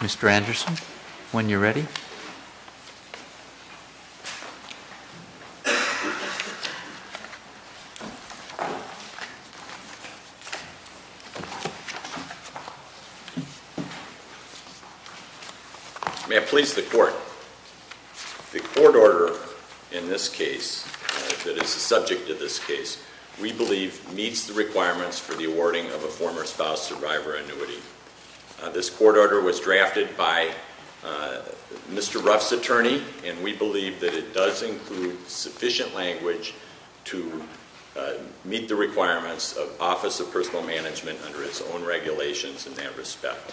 Mr. Anderson, when you are ready. May I please the court? The court order in this case, that is the subject of this case, we believe meets the requirements for the awarding of a former spouse survivor annuity. This court order was drafted by Mr. Ruff's attorney and we believe that it does include sufficient language to meet the requirements of Office of Personal Management under its own regulations in that respect.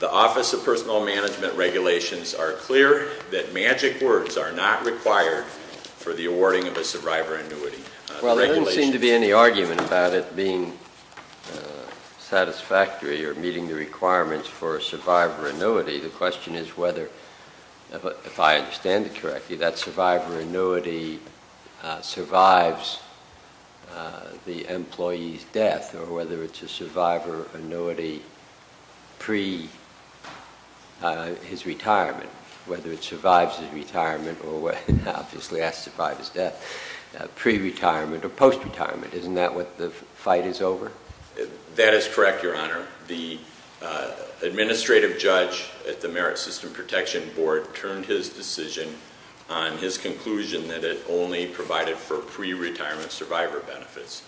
The Office of Personal Management regulations are clear that magic words are not required for the awarding of a survivor annuity. Well, there doesn't seem to be any argument about it being satisfactory or meeting the requirements for a survivor annuity. The question is whether, if I understand it correctly, that survivor annuity survives the employee's death or whether it's a survivor annuity pre retirement or post retirement. Isn't that what the fight is over? That is correct, Your Honor. The administrative judge at the Merit System Protection Board turned his decision on his conclusion that it only provided for pre-retirement survivor benefits.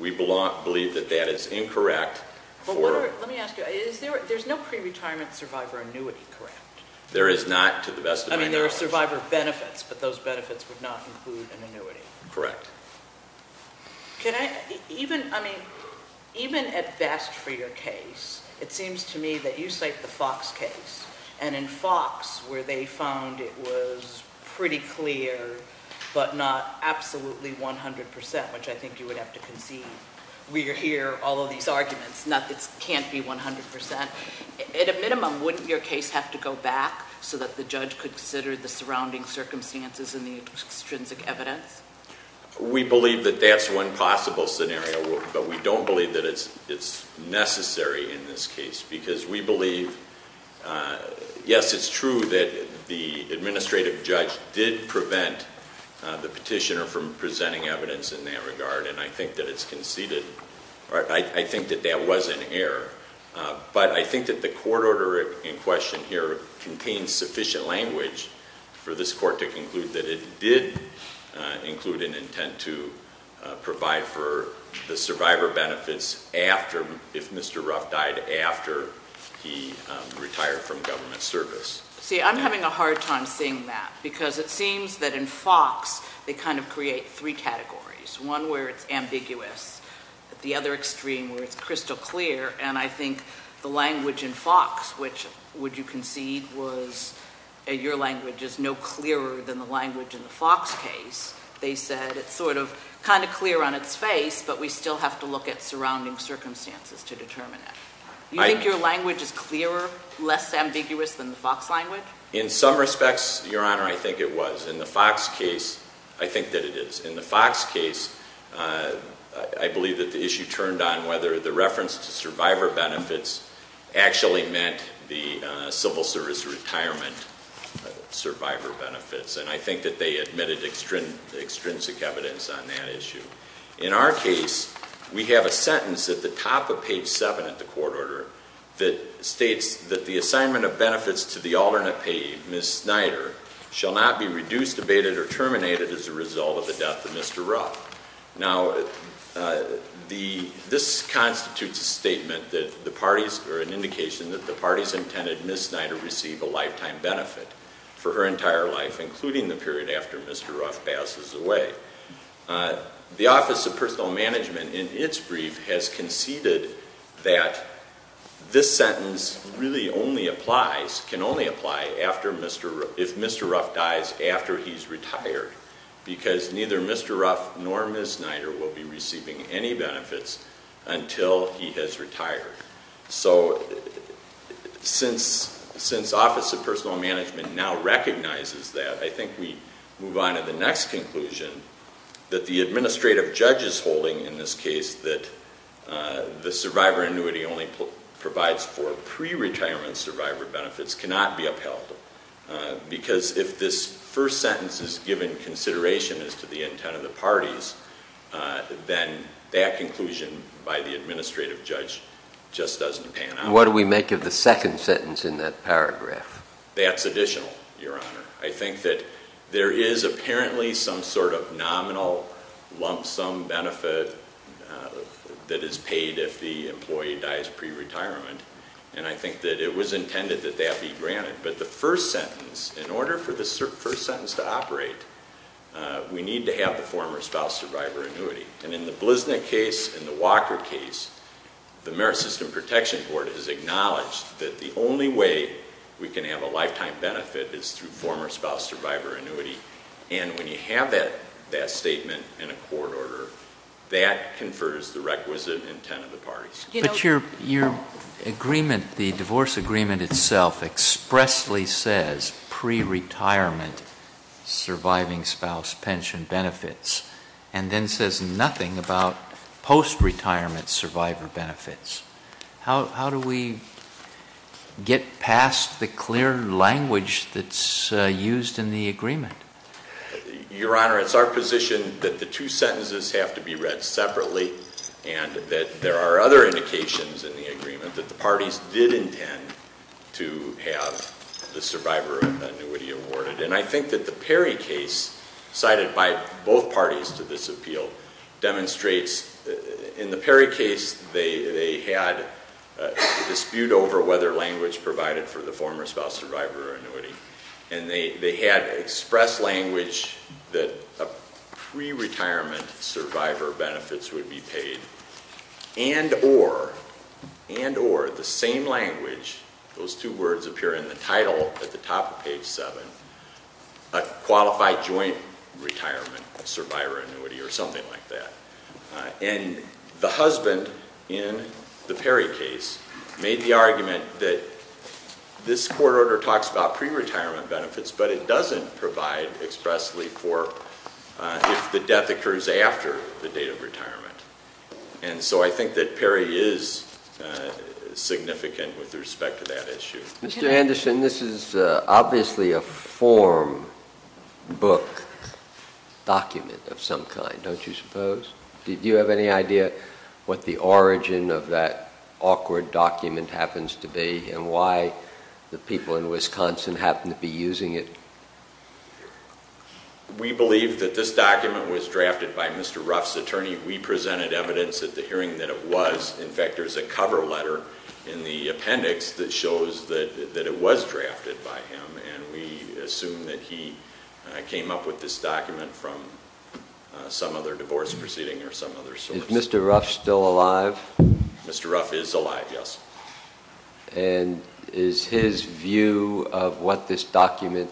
We believe that that is incorrect. Let me ask you, there's no pre-retirement survivor annuity, correct? There is not, to the best of my knowledge. I mean, there are survivor benefits, but those benefits would not include an annuity. Correct. Even at best for your case, it seems to me that you cite the Fox case. And in Fox, where they found it was pretty clear, but not absolutely 100%, which I think you would have to concede. We hear all of these arguments, not that it can't be 100%. At a minimum, wouldn't your case have to go back so that the judge could consider the surrounding circumstances and the extrinsic evidence? We believe that that's one possible scenario, but we don't believe that it's necessary in this case because we evidence in that regard, and I think that it's conceded. I think that that was an error. But I think that the court order in question here contains sufficient language for this court to conclude that it did include an intent to provide for the survivor benefits if Mr. Ruff died after he retired from government service. See, I'm having a hard time seeing that because it seems that in Fox, they kind of create three categories. One where it's ambiguous, the other extreme where it's crystal clear, and I think the language in Fox, which would you concede was your language is no clearer than the language in the Fox case. They said it's sort of kind of clear on its face, but we still have to look at surrounding circumstances to determine it. Do you think your language is clearer, less ambiguous than the Fox language? In some respects, Your Honor, I think it was. In the Fox case, I think that it is. In the Fox case, I believe that the issue turned on whether the reference to survivor benefits actually meant the civil service retirement survivor benefits, and I think that they admitted extrinsic evidence on that issue. In our case, we have a sentence at the top of page 7 of the court order that states that the assignment of benefits to the alternate payee, Ms. Snyder, shall not be reduced, abated, or terminated as a result of the death of Mr. Ruff. Now, this constitutes a statement that the parties, or an indication that the parties intended Ms. Snyder receive a lifetime benefit for her entire life, including the period after Mr. Ruff passes away. The Office of Personal Management in its brief has conceded that this sentence really only applies, can only apply, if Mr. Ruff dies after he's retired, because neither Mr. Ruff nor Ms. Snyder will be receiving any benefits until he has retired. So, since Office of Personal Management now recognizes that, I think we move on to the next conclusion that the administrative judge is holding in this case, that the survivor annuity only provides for pre-retirement survivor benefits cannot be upheld, because if this first sentence is given consideration as to the intent of the parties, then that conclusion by the administrative judge just doesn't pan out. What do we make of the second sentence in that paragraph? That's additional, Your Honor. I think that there is apparently some sort of nominal lump sum benefit that is paid if the employee dies pre-retirement, and I think that it was intended that that be granted. But the first sentence, in order for this first sentence to operate, we need to have the former spouse survivor annuity. And in the Bliznik case and the Walker case, the Merit System Protection Board has acknowledged that the only way we can have a lifetime benefit is through former spouse survivor annuity, and when you have that statement in a court order, that confers the requisite intent of the parties. But your agreement, the divorce agreement itself, expressly says pre-retirement surviving spouse pension benefits, and then says nothing about post-retirement survivor benefits. How do we get past the clear language that's used in the agreement? Your Honor, it's our position that the two sentences have to be read separately, and that there are other indications in the agreement that the parties did intend to have the survivor annuity awarded. And I think that the Perry case, cited by both parties to this appeal, demonstrates in the Perry case, they had a dispute over whether language provided for the former spouse survivor annuity, and they had expressed language that pre-retirement survivor benefits would be paid, and or, and or, the same language, those two words appear in the title at the top of page 7, a qualified joint retirement survivor annuity or something like that. And the husband in the Perry case made the argument that this court order talks about pre-retirement benefits, but it doesn't provide expressly for if the death occurs after the date of retirement. And so I think that Perry is significant with respect to that issue. Mr. Anderson, this is obviously a form book document of some kind, don't you suppose? Do you have any idea what the origin of that awkward document happens to be, and why the people in Wisconsin happen to be using it? We believe that this document was drafted by Mr. Ruff's attorney. We presented evidence at the hearing that it was. In fact, there's a cover letter in the appendix that shows that it was drafted by him, and we assume that he came up with this document from some other divorce proceeding or some other source. Is Mr. Ruff still alive? Mr. Ruff is alive, yes. And is his view of what this document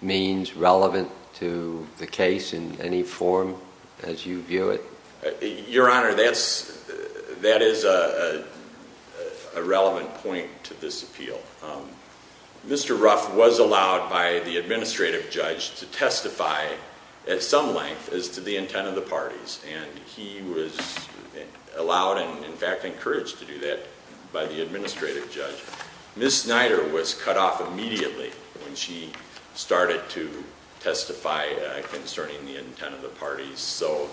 means relevant to the case in any form as you view it? Your Honor, that is a relevant point to this appeal. Mr. Ruff was allowed by the administrative judge to testify at some length as to the intent of the parties, and he was allowed and in fact encouraged to do that by the administrative judge. Ms. Snyder was cut off immediately when she started to testify concerning the intent of the parties. So,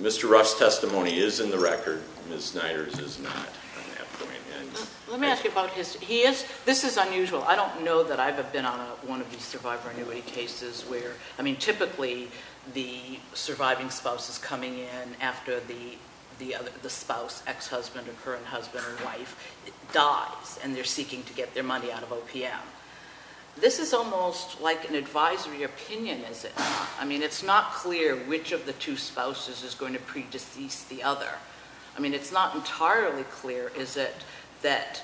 Mr. Ruff's testimony is in the record. Ms. Snyder's is not at that point. Let me ask you about his, he is, this is unusual. I don't know that I've been on one of these survivor annuity cases where, I mean, typically the surviving spouse is coming in after the spouse, ex-husband or current husband or wife dies, and they're seeking to get their money out of OPM. This is almost like an advisory opinion, is it not? I mean, it's not clear which of the two spouses is going to pre-decease the other. I mean, it's not entirely clear, is it, that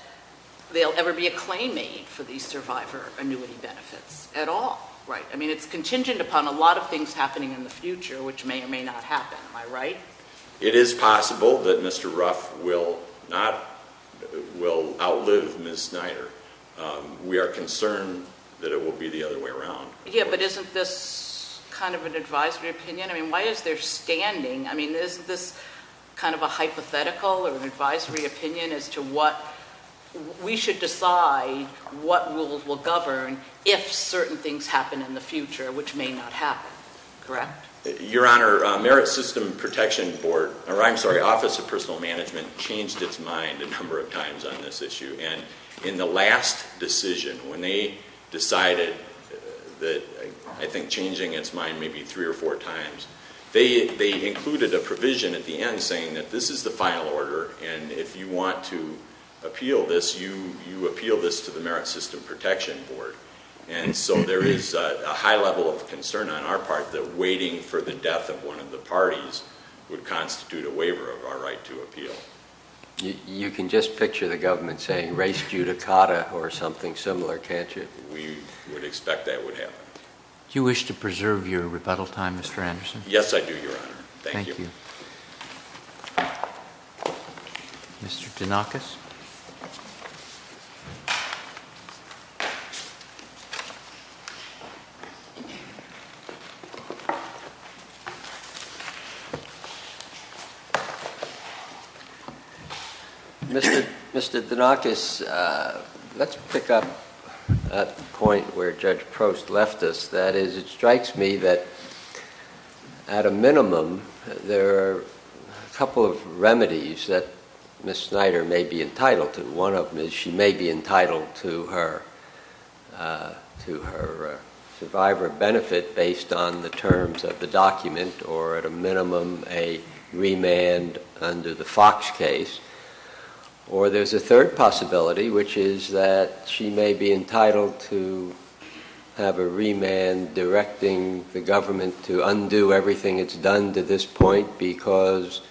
there'll ever be a claim made for these survivor annuity benefits at all, right? I mean, it's contingent upon a lot of things happening in the future, which may or may not happen, am I right? It is possible that Mr. Ruff will not, will outlive Ms. Snyder. We are concerned that it will be the other way around. Yeah, but isn't this kind of an advisory opinion? I mean, why is there standing, I mean, isn't this kind of a hypothetical or an advisory opinion as to what, we should decide what rules will govern if certain things happen in the future, which may not happen, correct? Your Honor, Merit System Protection Board, or I'm sorry, Office of Personal Management changed its mind a number of times on this issue. And in the last decision, when they decided that, I think changing its mind maybe three or four times, they included a provision at the end saying that this is the final order, and if you want to appeal this, you appeal this to the Merit System Protection Board. And so there is a high level of concern on our part that waiting for the death of one of the parties would constitute a waiver of our right to appeal. You can just picture the government saying, race judicata, or something similar, can't you? We would expect that would happen. You wish to preserve your rebuttal time, Mr. Anderson? Yes, I do, Your Honor. Thank you. Mr. Danakis? Mr. Danakis, let's pick up at the point where Judge Prost left us. That is, it strikes me that at a minimum, there are a couple of remedies that Ms. Snyder may be entitled to. One of them is she may be entitled to her survivor benefit based on the terms of the document, or at a minimum, a remand under the Fox case. Or there's a third possibility, which is that she may be entitled to have a remand directing the government to undo everything it's done to this point, because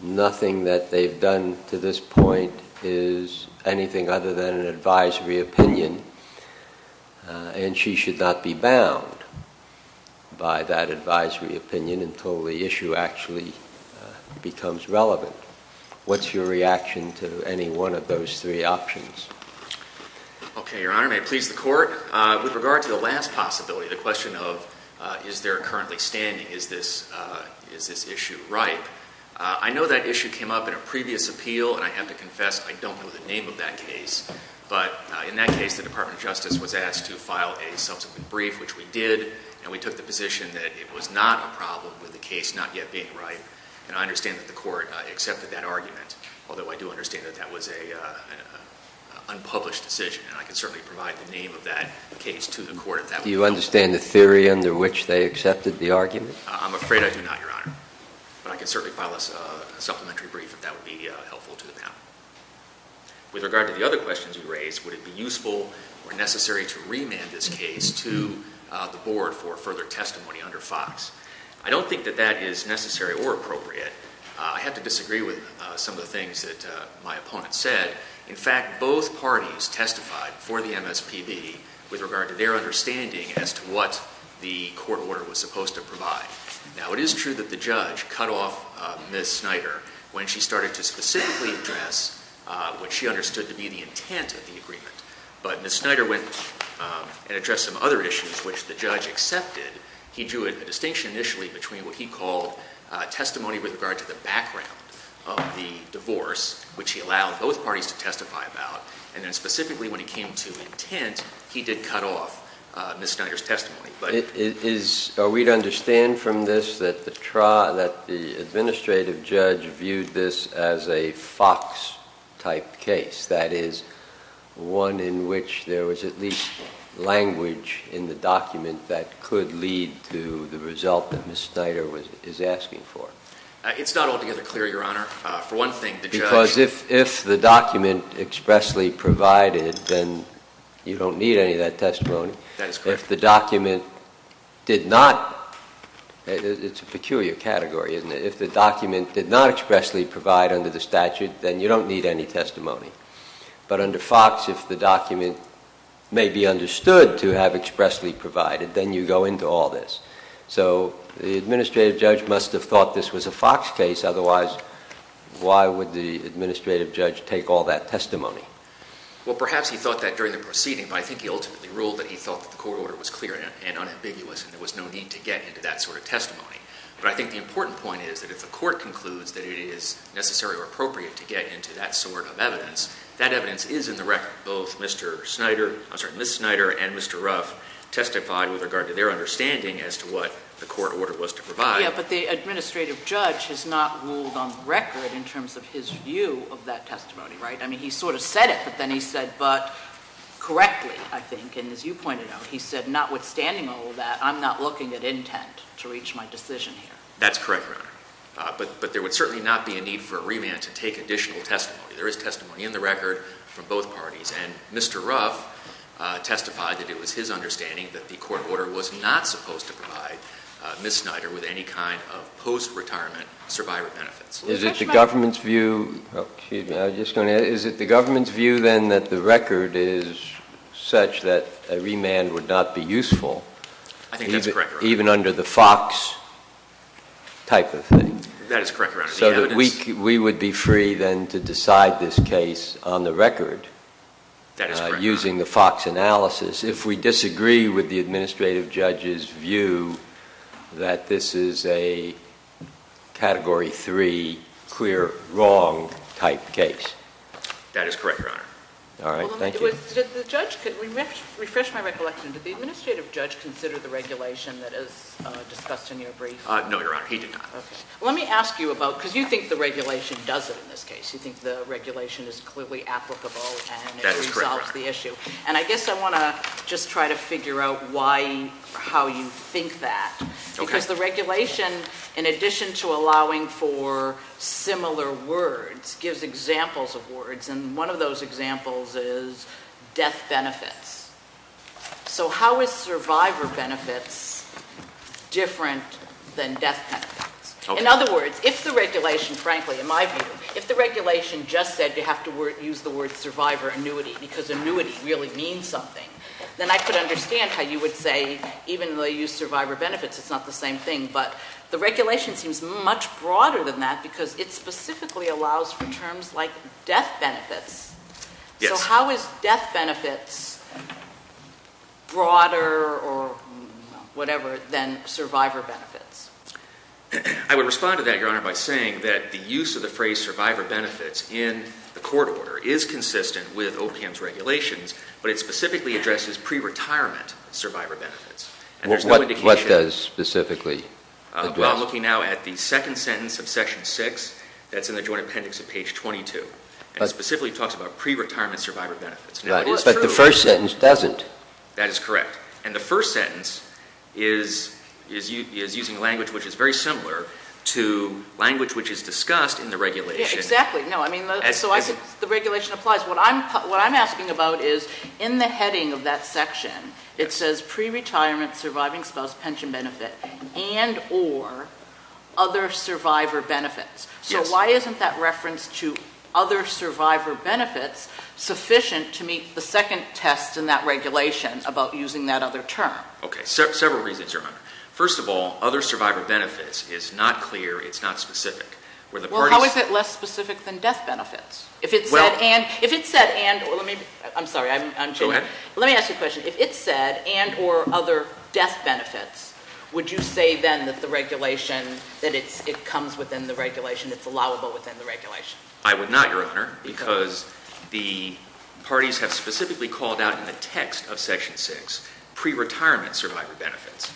nothing that they've done to this point is anything other than an advisory opinion, and she should not be bound by that advisory opinion until the issue actually becomes relevant. What's your reaction to any one of those three possibilities? Okay, Your Honor. May it please the Court? With regard to the last possibility, the question of, is there currently standing, is this issue ripe? I know that issue came up in a previous appeal, and I have to confess, I don't know the name of that case. But in that case, the Department of Justice was asked to file a subsequent brief, which we did, and we took the position that it was not a problem with the case not yet being ripe. And I understand that the Court accepted that argument, although I do understand that that was an unpublished decision, and I can certainly provide the name of that case to the Court if that would help. Do you understand the theory under which they accepted the argument? I'm afraid I do not, Your Honor. But I can certainly file a supplementary brief if that would be helpful to them. With regard to the other questions you raised, would it be useful or necessary to remand this case to the Board for further testimony under Fox? I don't think that that is necessary or appropriate. I have to disagree with some of the things that my opponent said. In fact, both parties testified for the MSPB with regard to their understanding as to what the court order was supposed to provide. Now, it is true that the judge cut off Ms. Snyder when she started to specifically address what she understood to be the intent of the agreement. But Ms. Snyder went and addressed some other issues which the judge accepted. He drew a distinction initially between what he called testimony with regard to the background of the divorce, which he allowed both parties to testify about, and then specifically when it came to intent, he did cut off Ms. Snyder's testimony. Is – are we to understand from this that the – that the administrative judge viewed this as a Fox-type case, that is, one in which there was at least language in the document that could lead to the result that Ms. Snyder was – is asking for? It's not altogether clear, Your Honor. For one thing, the judge – Because if – if the document expressly provided, then you don't need any of that testimony. That is correct. If the document did not – it's a peculiar category, isn't it? If the document did not expressly provide under the statute, then you don't need any testimony. But under Fox, if the document may be understood to have expressly provided, then you go into all this. So the administrative judge must have thought this was a Fox case. Otherwise, why would the administrative judge take all that testimony? Well, perhaps he thought that during the proceeding, but I think he ultimately ruled that he thought that the court order was clear and unambiguous and there was no need to get into that sort of testimony. But I think the important point is that if the court concludes that it is necessary or appropriate to get into that sort of evidence, that evidence is in the record. Both Mr. Snyder – I'm sorry, Ms. Snyder and Mr. Ruff testified with regard to their understanding as to what the court order was to provide. Yeah, but the administrative judge has not ruled on the record in terms of his view of that testimony, right? I mean, he sort of said it, but then he said, but – correctly, I think. And as you pointed out, he said notwithstanding all of that, I'm not looking at intent to reach my decision here. That's correct, Your Honor. But there would certainly not be a need for a remand to take additional testimony. There is testimony in the record from both parties. And Mr. Ruff testified that it was his understanding that the court order was not supposed to provide Ms. Snyder with any kind of post-retirement survivor benefits. Is it the government's view – excuse me, I was just going to – is it the government's view then that the record is such that a remand would not be useful – I think that's correct, Your Honor. – even under the Fox type of thing? That is correct, Your Honor. So that we would be free then to decide this case on the record – That is correct, Your Honor. – using the Fox analysis if we disagree with the administrative judge's view that this is a Category 3 clear wrong type case? That is correct, Your Honor. All right. Thank you. Well, let me – did the judge – refresh my recollection. Did the administrative judge consider the regulation that is discussed in your brief? No, Your Honor. He did not. Okay. Well, let me ask you about – because you think the regulation does it in this case. You think the regulation is clearly applicable and it resolves the issue. That is correct, Your Honor. And I guess I want to just try to figure out why – or how you think that. Okay. Because the regulation, in addition to allowing for similar words, gives examples of words. And one of those examples is death benefits. So how is survivor benefits different than death benefits? Okay. In other words, if the regulation – frankly, in my view – if the regulation just said you have to use the word survivor annuity because annuity really means something, then I could understand how you would say even though you use survivor benefits, it's not the same thing. But the regulation seems much broader than that because it specifically allows for terms like death benefits. Yes. So how is death benefits broader or whatever than survivor benefits? I would respond to that, Your Honor, by saying that the use of the phrase survivor benefits in the court order is consistent with OPM's regulations, but it specifically addresses pre-retirement survivor benefits. And there's no indication – Well, what does specifically address? Well, I'm looking now at the second sentence of Section 6 that's in the Joint Appendix of page 22. And it specifically talks about pre-retirement survivor benefits. Now, it is true – Right. But the first sentence doesn't. That is correct. And the first sentence is using language which is very similar to language which is discussed in the regulation. Exactly. No. I mean, so I think the regulation applies. What I'm asking about is in the heading of that section, it says pre-retirement surviving spouse pension benefit and or other survivor benefits. Yes. So why isn't that reference to other survivor benefits sufficient to meet the second test in that regulation about using that other term? Okay. Several reasons, Your Honor. First of all, other survivor benefits is not clear. It's not specific. Well, how is it less specific than death benefits? If it said and – Well – If it said and – I'm sorry. I'm changing. Go ahead. Let me ask you a question. If it said and or other death benefits, would you say then that the regulation, that it comes within the regulation, it's allowable within the regulation? I would not, Your Honor, because the parties have specifically called out in the text of Section 6 pre-retirement survivor benefits.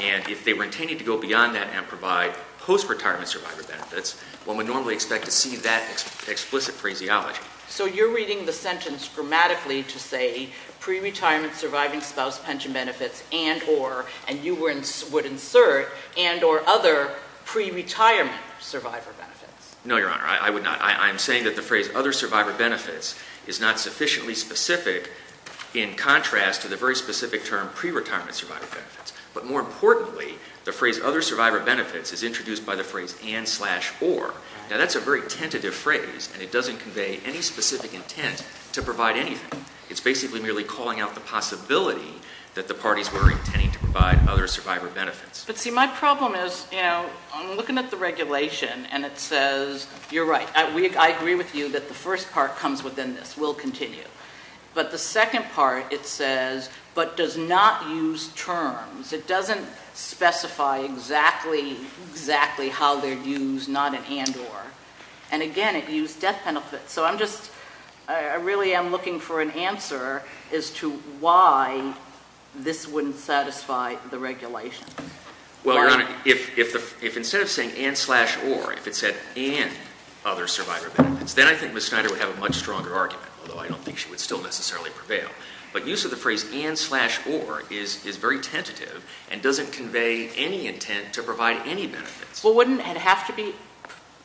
And if they were intending to go beyond that and provide post-retirement survivor benefits, one would normally expect to see that explicit phraseology. So you're reading the sentence grammatically to say pre-retirement surviving spouse pension benefits and or, and you would insert and or other pre-retirement survivor benefits. No, Your Honor. I would not. I'm saying that the phrase other survivor benefits is not sufficiently specific in contrast to the very specific term pre-retirement survivor benefits. But more importantly, the phrase other survivor benefits is introduced by the phrase and slash or. Now that's a very tentative phrase and it doesn't convey any specific intent to provide anything. It's basically merely calling out the possibility that the parties were intending to provide other survivor benefits. But see, my problem is, you know, I'm looking at the regulation and it says, you're right, I agree with you that the first part comes within this, we'll continue. But the second part, it says, but does not use terms. It doesn't specify exactly, exactly how they'd use not an and or. And again, it used death benefits. So I'm just, I really am looking for an answer as to why this wouldn't satisfy the regulation. Well, Your Honor, if instead of saying and slash or, if it said and other survivor benefits, then I think Ms. Snyder would have a much stronger argument, although I don't think she would still necessarily prevail. But use of the phrase and slash or is very tentative and doesn't convey any intent to provide any benefits. Well, wouldn't it have to be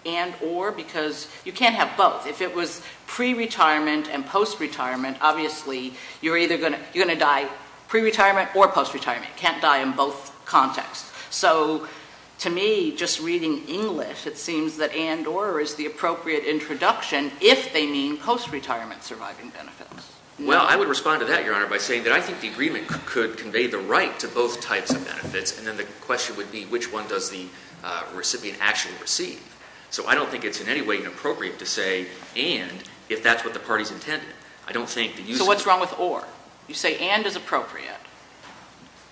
and or? Because you can't have both. If it was pre-retirement and post-retirement, obviously you're either going to die pre-retirement or post-retirement. You can't die in both contexts. So to me, just reading English, it seems that and or is the appropriate introduction if they mean post-retirement surviving benefits. Well, I would respond to that, Your Honor, by saying that I think the agreement could convey the right to both types of benefits, and then the question would be which one does the recipient actually receive. So I don't think it's in any way inappropriate to say and if that's what the party's intended. I don't think the use of... So what's wrong with or? You say and is appropriate.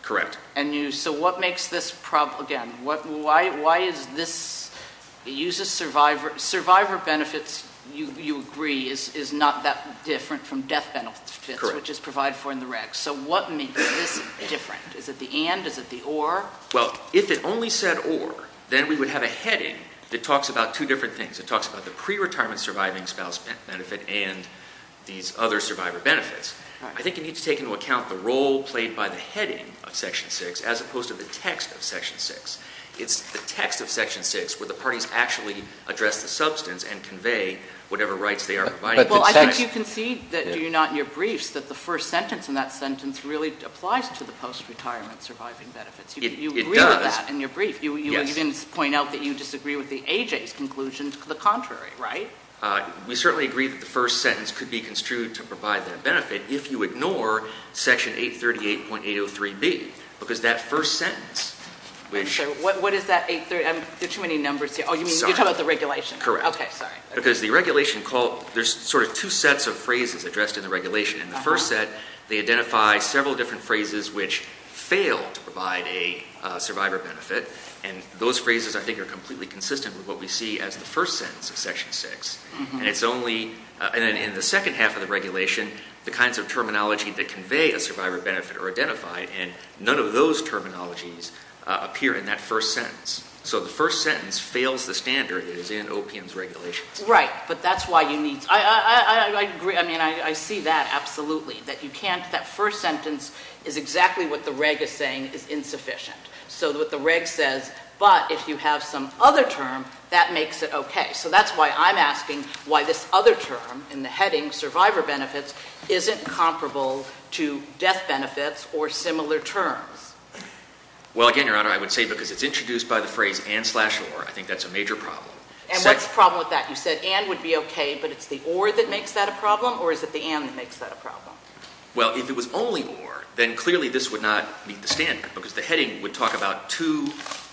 Correct. And you, so what makes this, again, why is this, it uses survivor, survivor benefits, you agree, is not that different from death benefits, which is provided for in the regs. So what makes this different? Is it the and? Is it the or? Well, if it only said or, then we would have a heading that talks about two different things. It talks about the pre-retirement surviving spouse benefit and these other survivor benefits. I think you need to take into account the role played by the heading of Section 6 as opposed to the text of Section 6. It's the text of Section 6 where the parties actually address the substance and convey whatever rights they are providing. But the text... Well, I think you can see that, do you not, in your briefs that the first sentence in that sentence really applies to the post-retirement surviving benefits. It does. You agree with that in your brief. Yes. You even point out that you disagree with the AJ's conclusion to the contrary, right? We certainly agree that the first sentence could be construed to provide that benefit if you ignore Section 838.803B because that first sentence, which... What is that 838? There are too many numbers here. Oh, you mean... Sorry. You're talking about the regulation. Correct. Okay. Sorry. Because the regulation called... There's sort of two sets of phrases addressed in the regulation. In the first set, they identify several different phrases which fail to provide a survivor benefit and those phrases, I think, are completely consistent with what we see as the first sentence of Section 6. And it's only... And then in the second half of the regulation, the kinds of terminology that convey a survivor benefit are identified and none of those terminologies appear in that first sentence. So the first sentence fails the standard that is in OPM's regulations. Right. But that's why you need... I agree. I mean, I see that absolutely, that you can't... That first sentence is exactly what the reg is saying is insufficient. So what the reg says, but if you have some other term, that makes it okay. Okay. So that's why I'm asking why this other term in the heading, survivor benefits, isn't comparable to death benefits or similar terms. Well, again, Your Honor, I would say because it's introduced by the phrase and slash or, I think that's a major problem. And what's the problem with that? You said and would be okay, but it's the or that makes that a problem or is it the and that makes that a problem? Well, if it was only or, then clearly this would not meet the standard because the heading would talk about two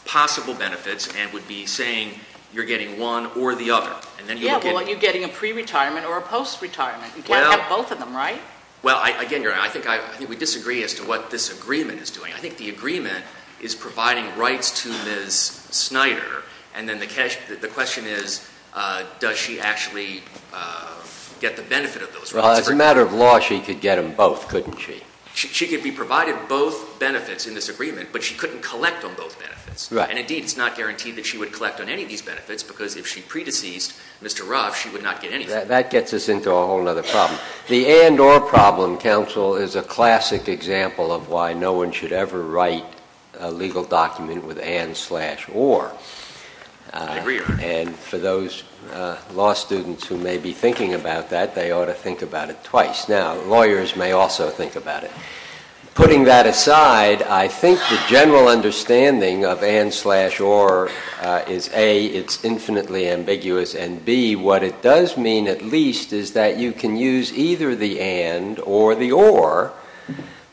possible benefits and would be saying you're getting one or the other. And then you look at... Yeah. Well, you're getting a pre-retirement or a post-retirement. Well... You can't have both of them, right? Well, again, Your Honor, I think we disagree as to what this agreement is doing. I think the agreement is providing rights to Ms. Snyder. And then the question is, does she actually get the benefit of those rights? Well, as a matter of law, she could get them both, couldn't she? She could be provided both benefits in this agreement, but she couldn't collect on both benefits. Right. And indeed, it's not guaranteed that she would collect on any of these benefits because if she pre-deceased Mr. Ruff, she would not get anything. That gets us into a whole other problem. The and or problem, counsel, is a classic example of why no one should ever write a legal document with and slash or. I agree, Your Honor. Now, lawyers may also think about it. Putting that aside, I think the general understanding of and slash or is A, it's infinitely ambiguous, and B, what it does mean at least is that you can use either the and or the or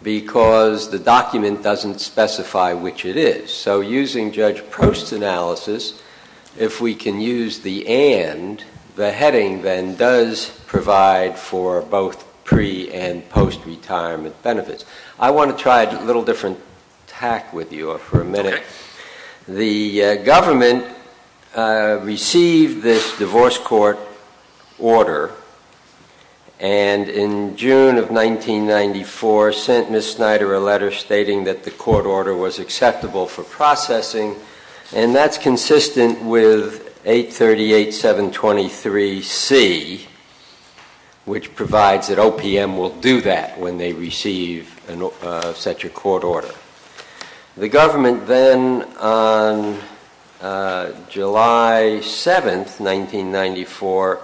because the document doesn't specify which it is. So using Judge Post's analysis, if we can use the and, the heading then does provide for both pre- and post-retirement benefits. I want to try a little different tack with you for a minute. The government received this divorce court order, and in June of 1994, sent Ms. Snyder a letter stating that the court order was acceptable for processing, and that's consistent with 838-723-C, which provides that OPM will do that when they receive such a court order. The government then, on July 7th, 1994,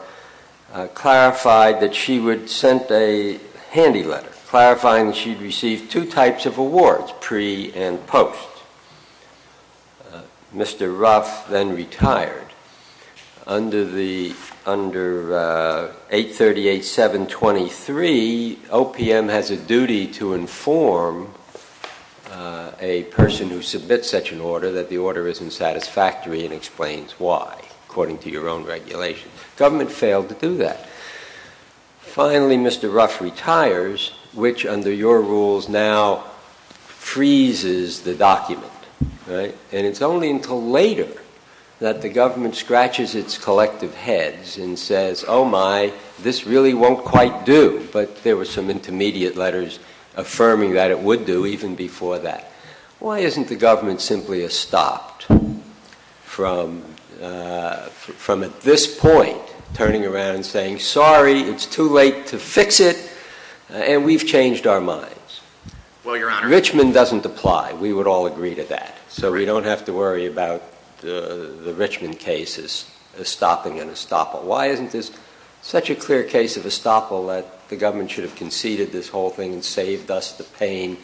clarified that she would send a handy letter, clarifying that she'd received two types of awards, pre- and post. Mr. Ruff then retired. Under 838-723, OPM has a duty to inform a person who submits such an order that the order isn't satisfactory and explains why, according to your own regulations. Government failed to do that. Finally, Mr. Ruff retires, which, under your rules, now freezes the document, and it's only until later that the government scratches its collective heads and says, oh my, this really won't quite do, but there were some intermediate letters affirming that it would do even before that. Why isn't the government simply estopped from, at this point, turning around and saying, sorry, it's too late to fix it, and we've changed our minds? Well, Your Honor- Richmond doesn't apply. We would all agree to that. So we don't have to worry about the Richmond case as stopping an estoppel. Why isn't this such a clear case of estoppel that the government should have conceded this whole thing and saved us the pain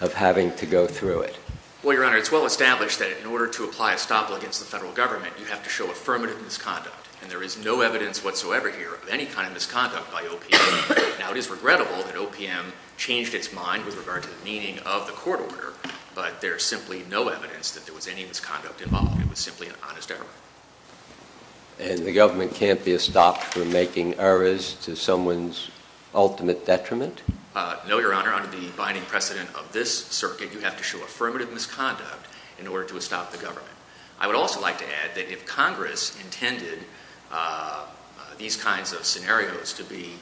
of having to go through it? Well, Your Honor, it's well established that in order to apply estoppel against the federal government, you have to show affirmative misconduct, and there is no evidence whatsoever here of any kind of misconduct by OPM. Now, it is regrettable that OPM changed its mind with regard to the meaning of the court order, but there's simply no evidence that there was any misconduct involved. It was simply an honest error. And the government can't be estopped from making errors to someone's ultimate detriment? No, Your Honor. Under the binding precedent of this circuit, you have to show affirmative misconduct in order to estop the government. I would also like to add that if Congress intended these kinds of scenarios to be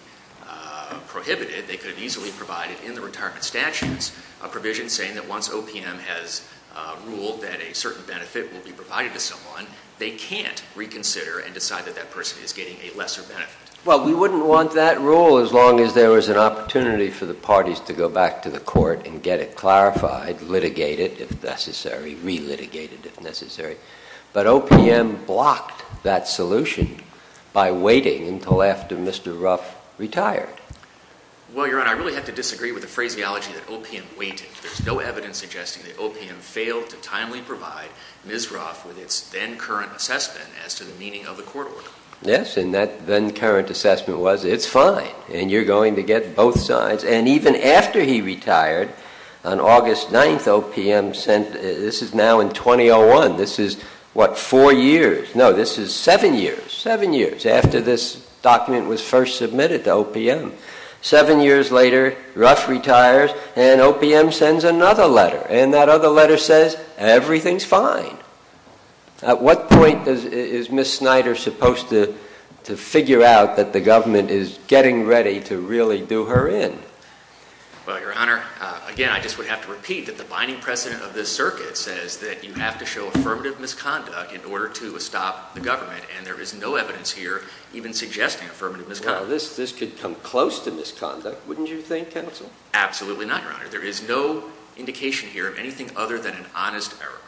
prohibited, they could have easily provided in the retirement statutes a provision saying that once OPM has ruled that a certain benefit will be provided to someone, they can't reconsider and decide that that person is getting a lesser benefit. Well, we wouldn't want that rule as long as there was an opportunity for the parties to go back to the court and get it clarified, litigated if necessary, re-litigated if necessary. But OPM blocked that solution by waiting until after Mr. Ruff retired. Well, Your Honor, I really have to disagree with the phraseology that OPM waited. There's no evidence suggesting that OPM failed to timely provide Ms. Ruff with its then-current assessment as to the meaning of the court order. Yes, and that then-current assessment was, it's fine, and you're going to get both sides. And even after he retired, on August 9th, OPM sent, this is now in 2001. This is, what, four years? No, this is seven years, seven years after this document was first submitted to OPM. Seven years later, Ruff retires, and OPM sends another letter. And that other letter says, everything's fine. At what point is Ms. Snyder supposed to figure out that the government is getting ready to really do her in? Well, Your Honor, again, I just would have to repeat that the binding precedent of this circuit says that you have to show affirmative misconduct in order to stop the government, and there is no evidence here even suggesting affirmative misconduct. Well, this could come close to misconduct, wouldn't you think, counsel? Absolutely not, Your Honor. There is no indication here of anything other than an honest error,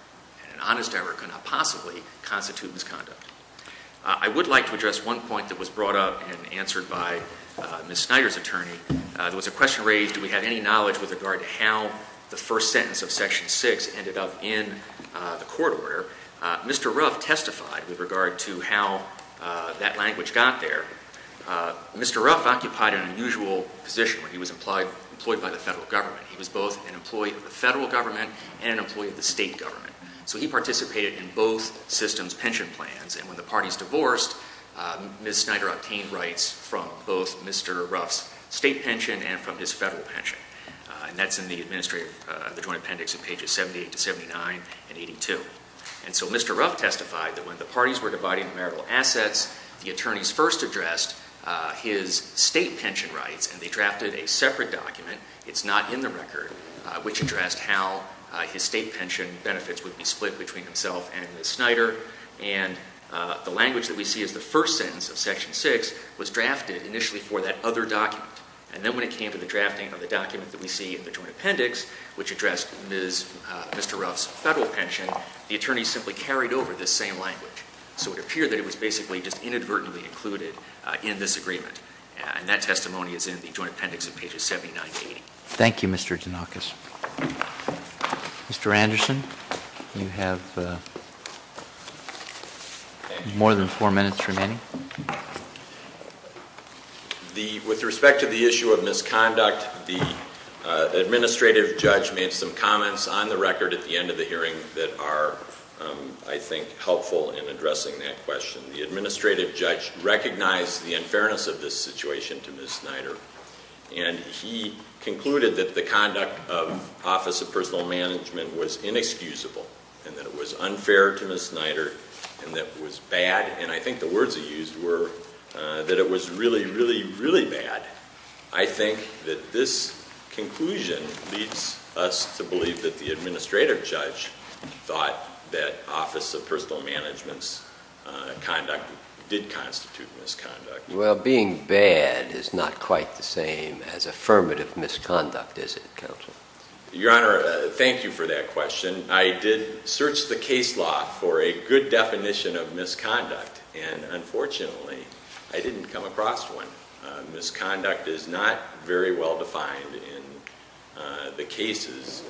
and an honest error could not possibly constitute misconduct. I would like to address one point that was brought up and answered by Ms. Snyder's attorney. There was a question raised, do we have any knowledge with regard to how the first sentence of section six ended up in the court order? Mr. Ruff testified with regard to how that language got there. Mr. Ruff occupied an unusual position where he was employed by the federal government. He was both an employee of the federal government and an employee of the state government. So he participated in both systems' pension plans. And when the parties divorced, Ms. Snyder obtained rights from both Mr. Ruff's state pension and from his federal pension. And that's in the administrative, the joint appendix in pages 78 to 79 and 82. And so Mr. Ruff testified that when the parties were dividing the marital assets, the attorneys first addressed his state pension rights, and they drafted a separate document. It's not in the record, which addressed how his state pension benefits would be split between himself and Ms. Snyder. And the language that we see as the first sentence of section six was drafted initially for that other document. And then when it came to the drafting of the document that we see in the joint appendix, which addressed Mr. Ruff's federal pension, the attorney simply carried over this same language. So it appeared that it was basically just inadvertently included in this agreement. And that testimony is in the joint appendix in pages 79 to 80. Thank you, Mr. Denakis. Mr. Anderson, you have more than four minutes remaining. With respect to the issue of misconduct, the administrative judge made some comments on the record at the end of the hearing that are, I think, helpful in addressing that question. The administrative judge recognized the unfairness of this situation to Ms. Snyder. And he concluded that the conduct of Office of Personal Management was inexcusable, and that it was unfair to Ms. Snyder, and that it was bad. And I think the words he used were that it was really, really, really bad. I think that this conclusion leads us to believe that the administrative judge thought that Office of Personal Management's conduct did constitute misconduct. Well, being bad is not quite the same as affirmative misconduct, is it, counsel? Your Honor, thank you for that question. I did search the case law for a good definition of misconduct. And unfortunately, I didn't come across one. Misconduct is not very well defined in the cases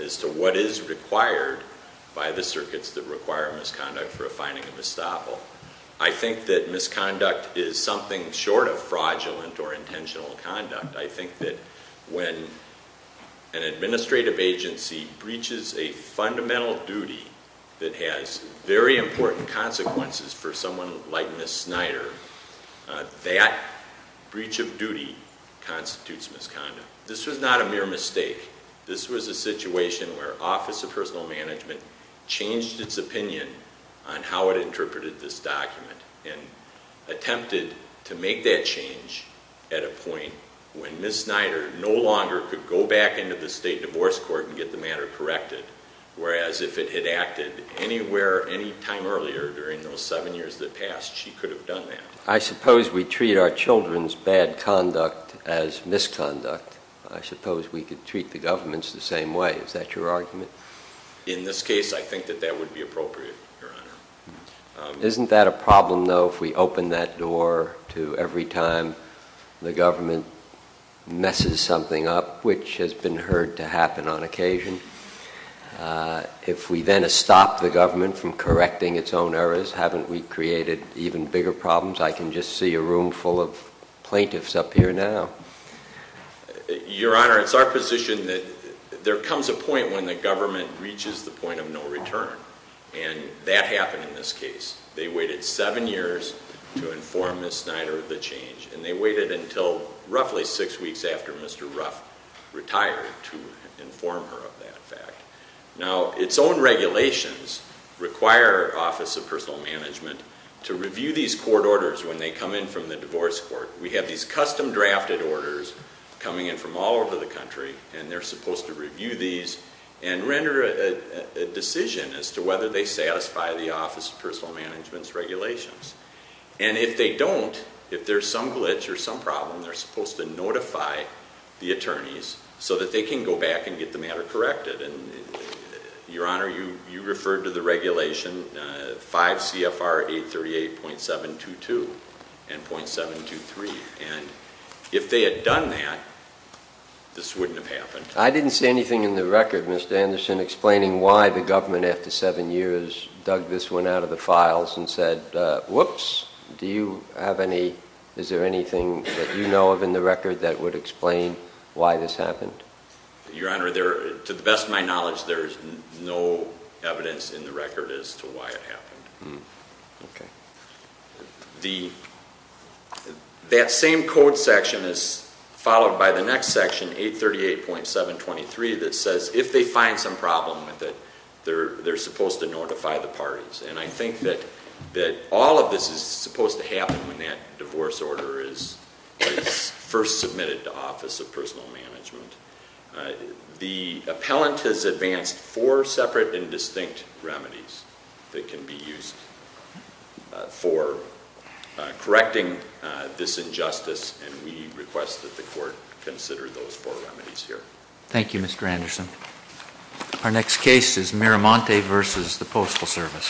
as to what is required by the circuits that require misconduct for a finding of estoppel. I think that misconduct is something short of fraudulent or intentional conduct. I think that when an administrative agency breaches a fundamental duty that has very important consequences for someone like Ms. Snyder, that breach of duty constitutes misconduct. This was not a mere mistake. This was a situation where Office of Personal Management changed its opinion on how it interpreted this document, and attempted to make that change at a point when Ms. Snyder no longer could go back into the state divorce court and get the matter corrected, whereas if it had acted anywhere any time earlier during those seven years that passed, she could have done that. I suppose we treat our children's bad conduct as misconduct. I suppose we could treat the government's the same way. Is that your argument? In this case, I think that that would be appropriate, Your Honor. Isn't that a problem, though, if we open that door to every time the government messes something up, which has been heard to happen on occasion? If we then stop the government from correcting its own errors, haven't we created even bigger problems? I can just see a room full of plaintiffs up here now. Your Honor, it's our position that there comes a point when the government reaches the point of no return, and that happened in this case. They waited seven years to inform Ms. Snyder of the change, and they waited until roughly six weeks after Mr. Ruff retired to inform her of that fact. Now, its own regulations require Office of Personal Management to review these court orders when they come in from the divorce court. We have these custom-drafted orders coming in from all over the country, and they're supposed to review these and render a decision as to whether they satisfy the Office of Personal Management's regulations. And if they don't, if there's some glitch or some problem, they're supposed to notify the attorneys so that they can go back and get the matter corrected. And, Your Honor, you referred to the regulation 5 CFR 838.722 and .723, and if they had done that, this wouldn't have happened. I didn't see anything in the record, Mr. Anderson, explaining why the government, after seven years, dug this one out of the files and said, whoops. Do you have any, is there anything that you know of in the record that would explain why this happened? Your Honor, to the best of my knowledge, there's no evidence in the record as to why it happened. Okay. That same code section is followed by the next section, 838.723, that says if they find some problem with it, they're supposed to notify the parties. And I think that all of this is supposed to happen when that divorce order is first submitted to Office of Personal Management. The appellant has advanced four separate and distinct remedies that can be used for correcting this injustice. And we request that the court consider those four remedies here. Thank you, Mr. Anderson. Our next case is Miramonte versus the Postal Service.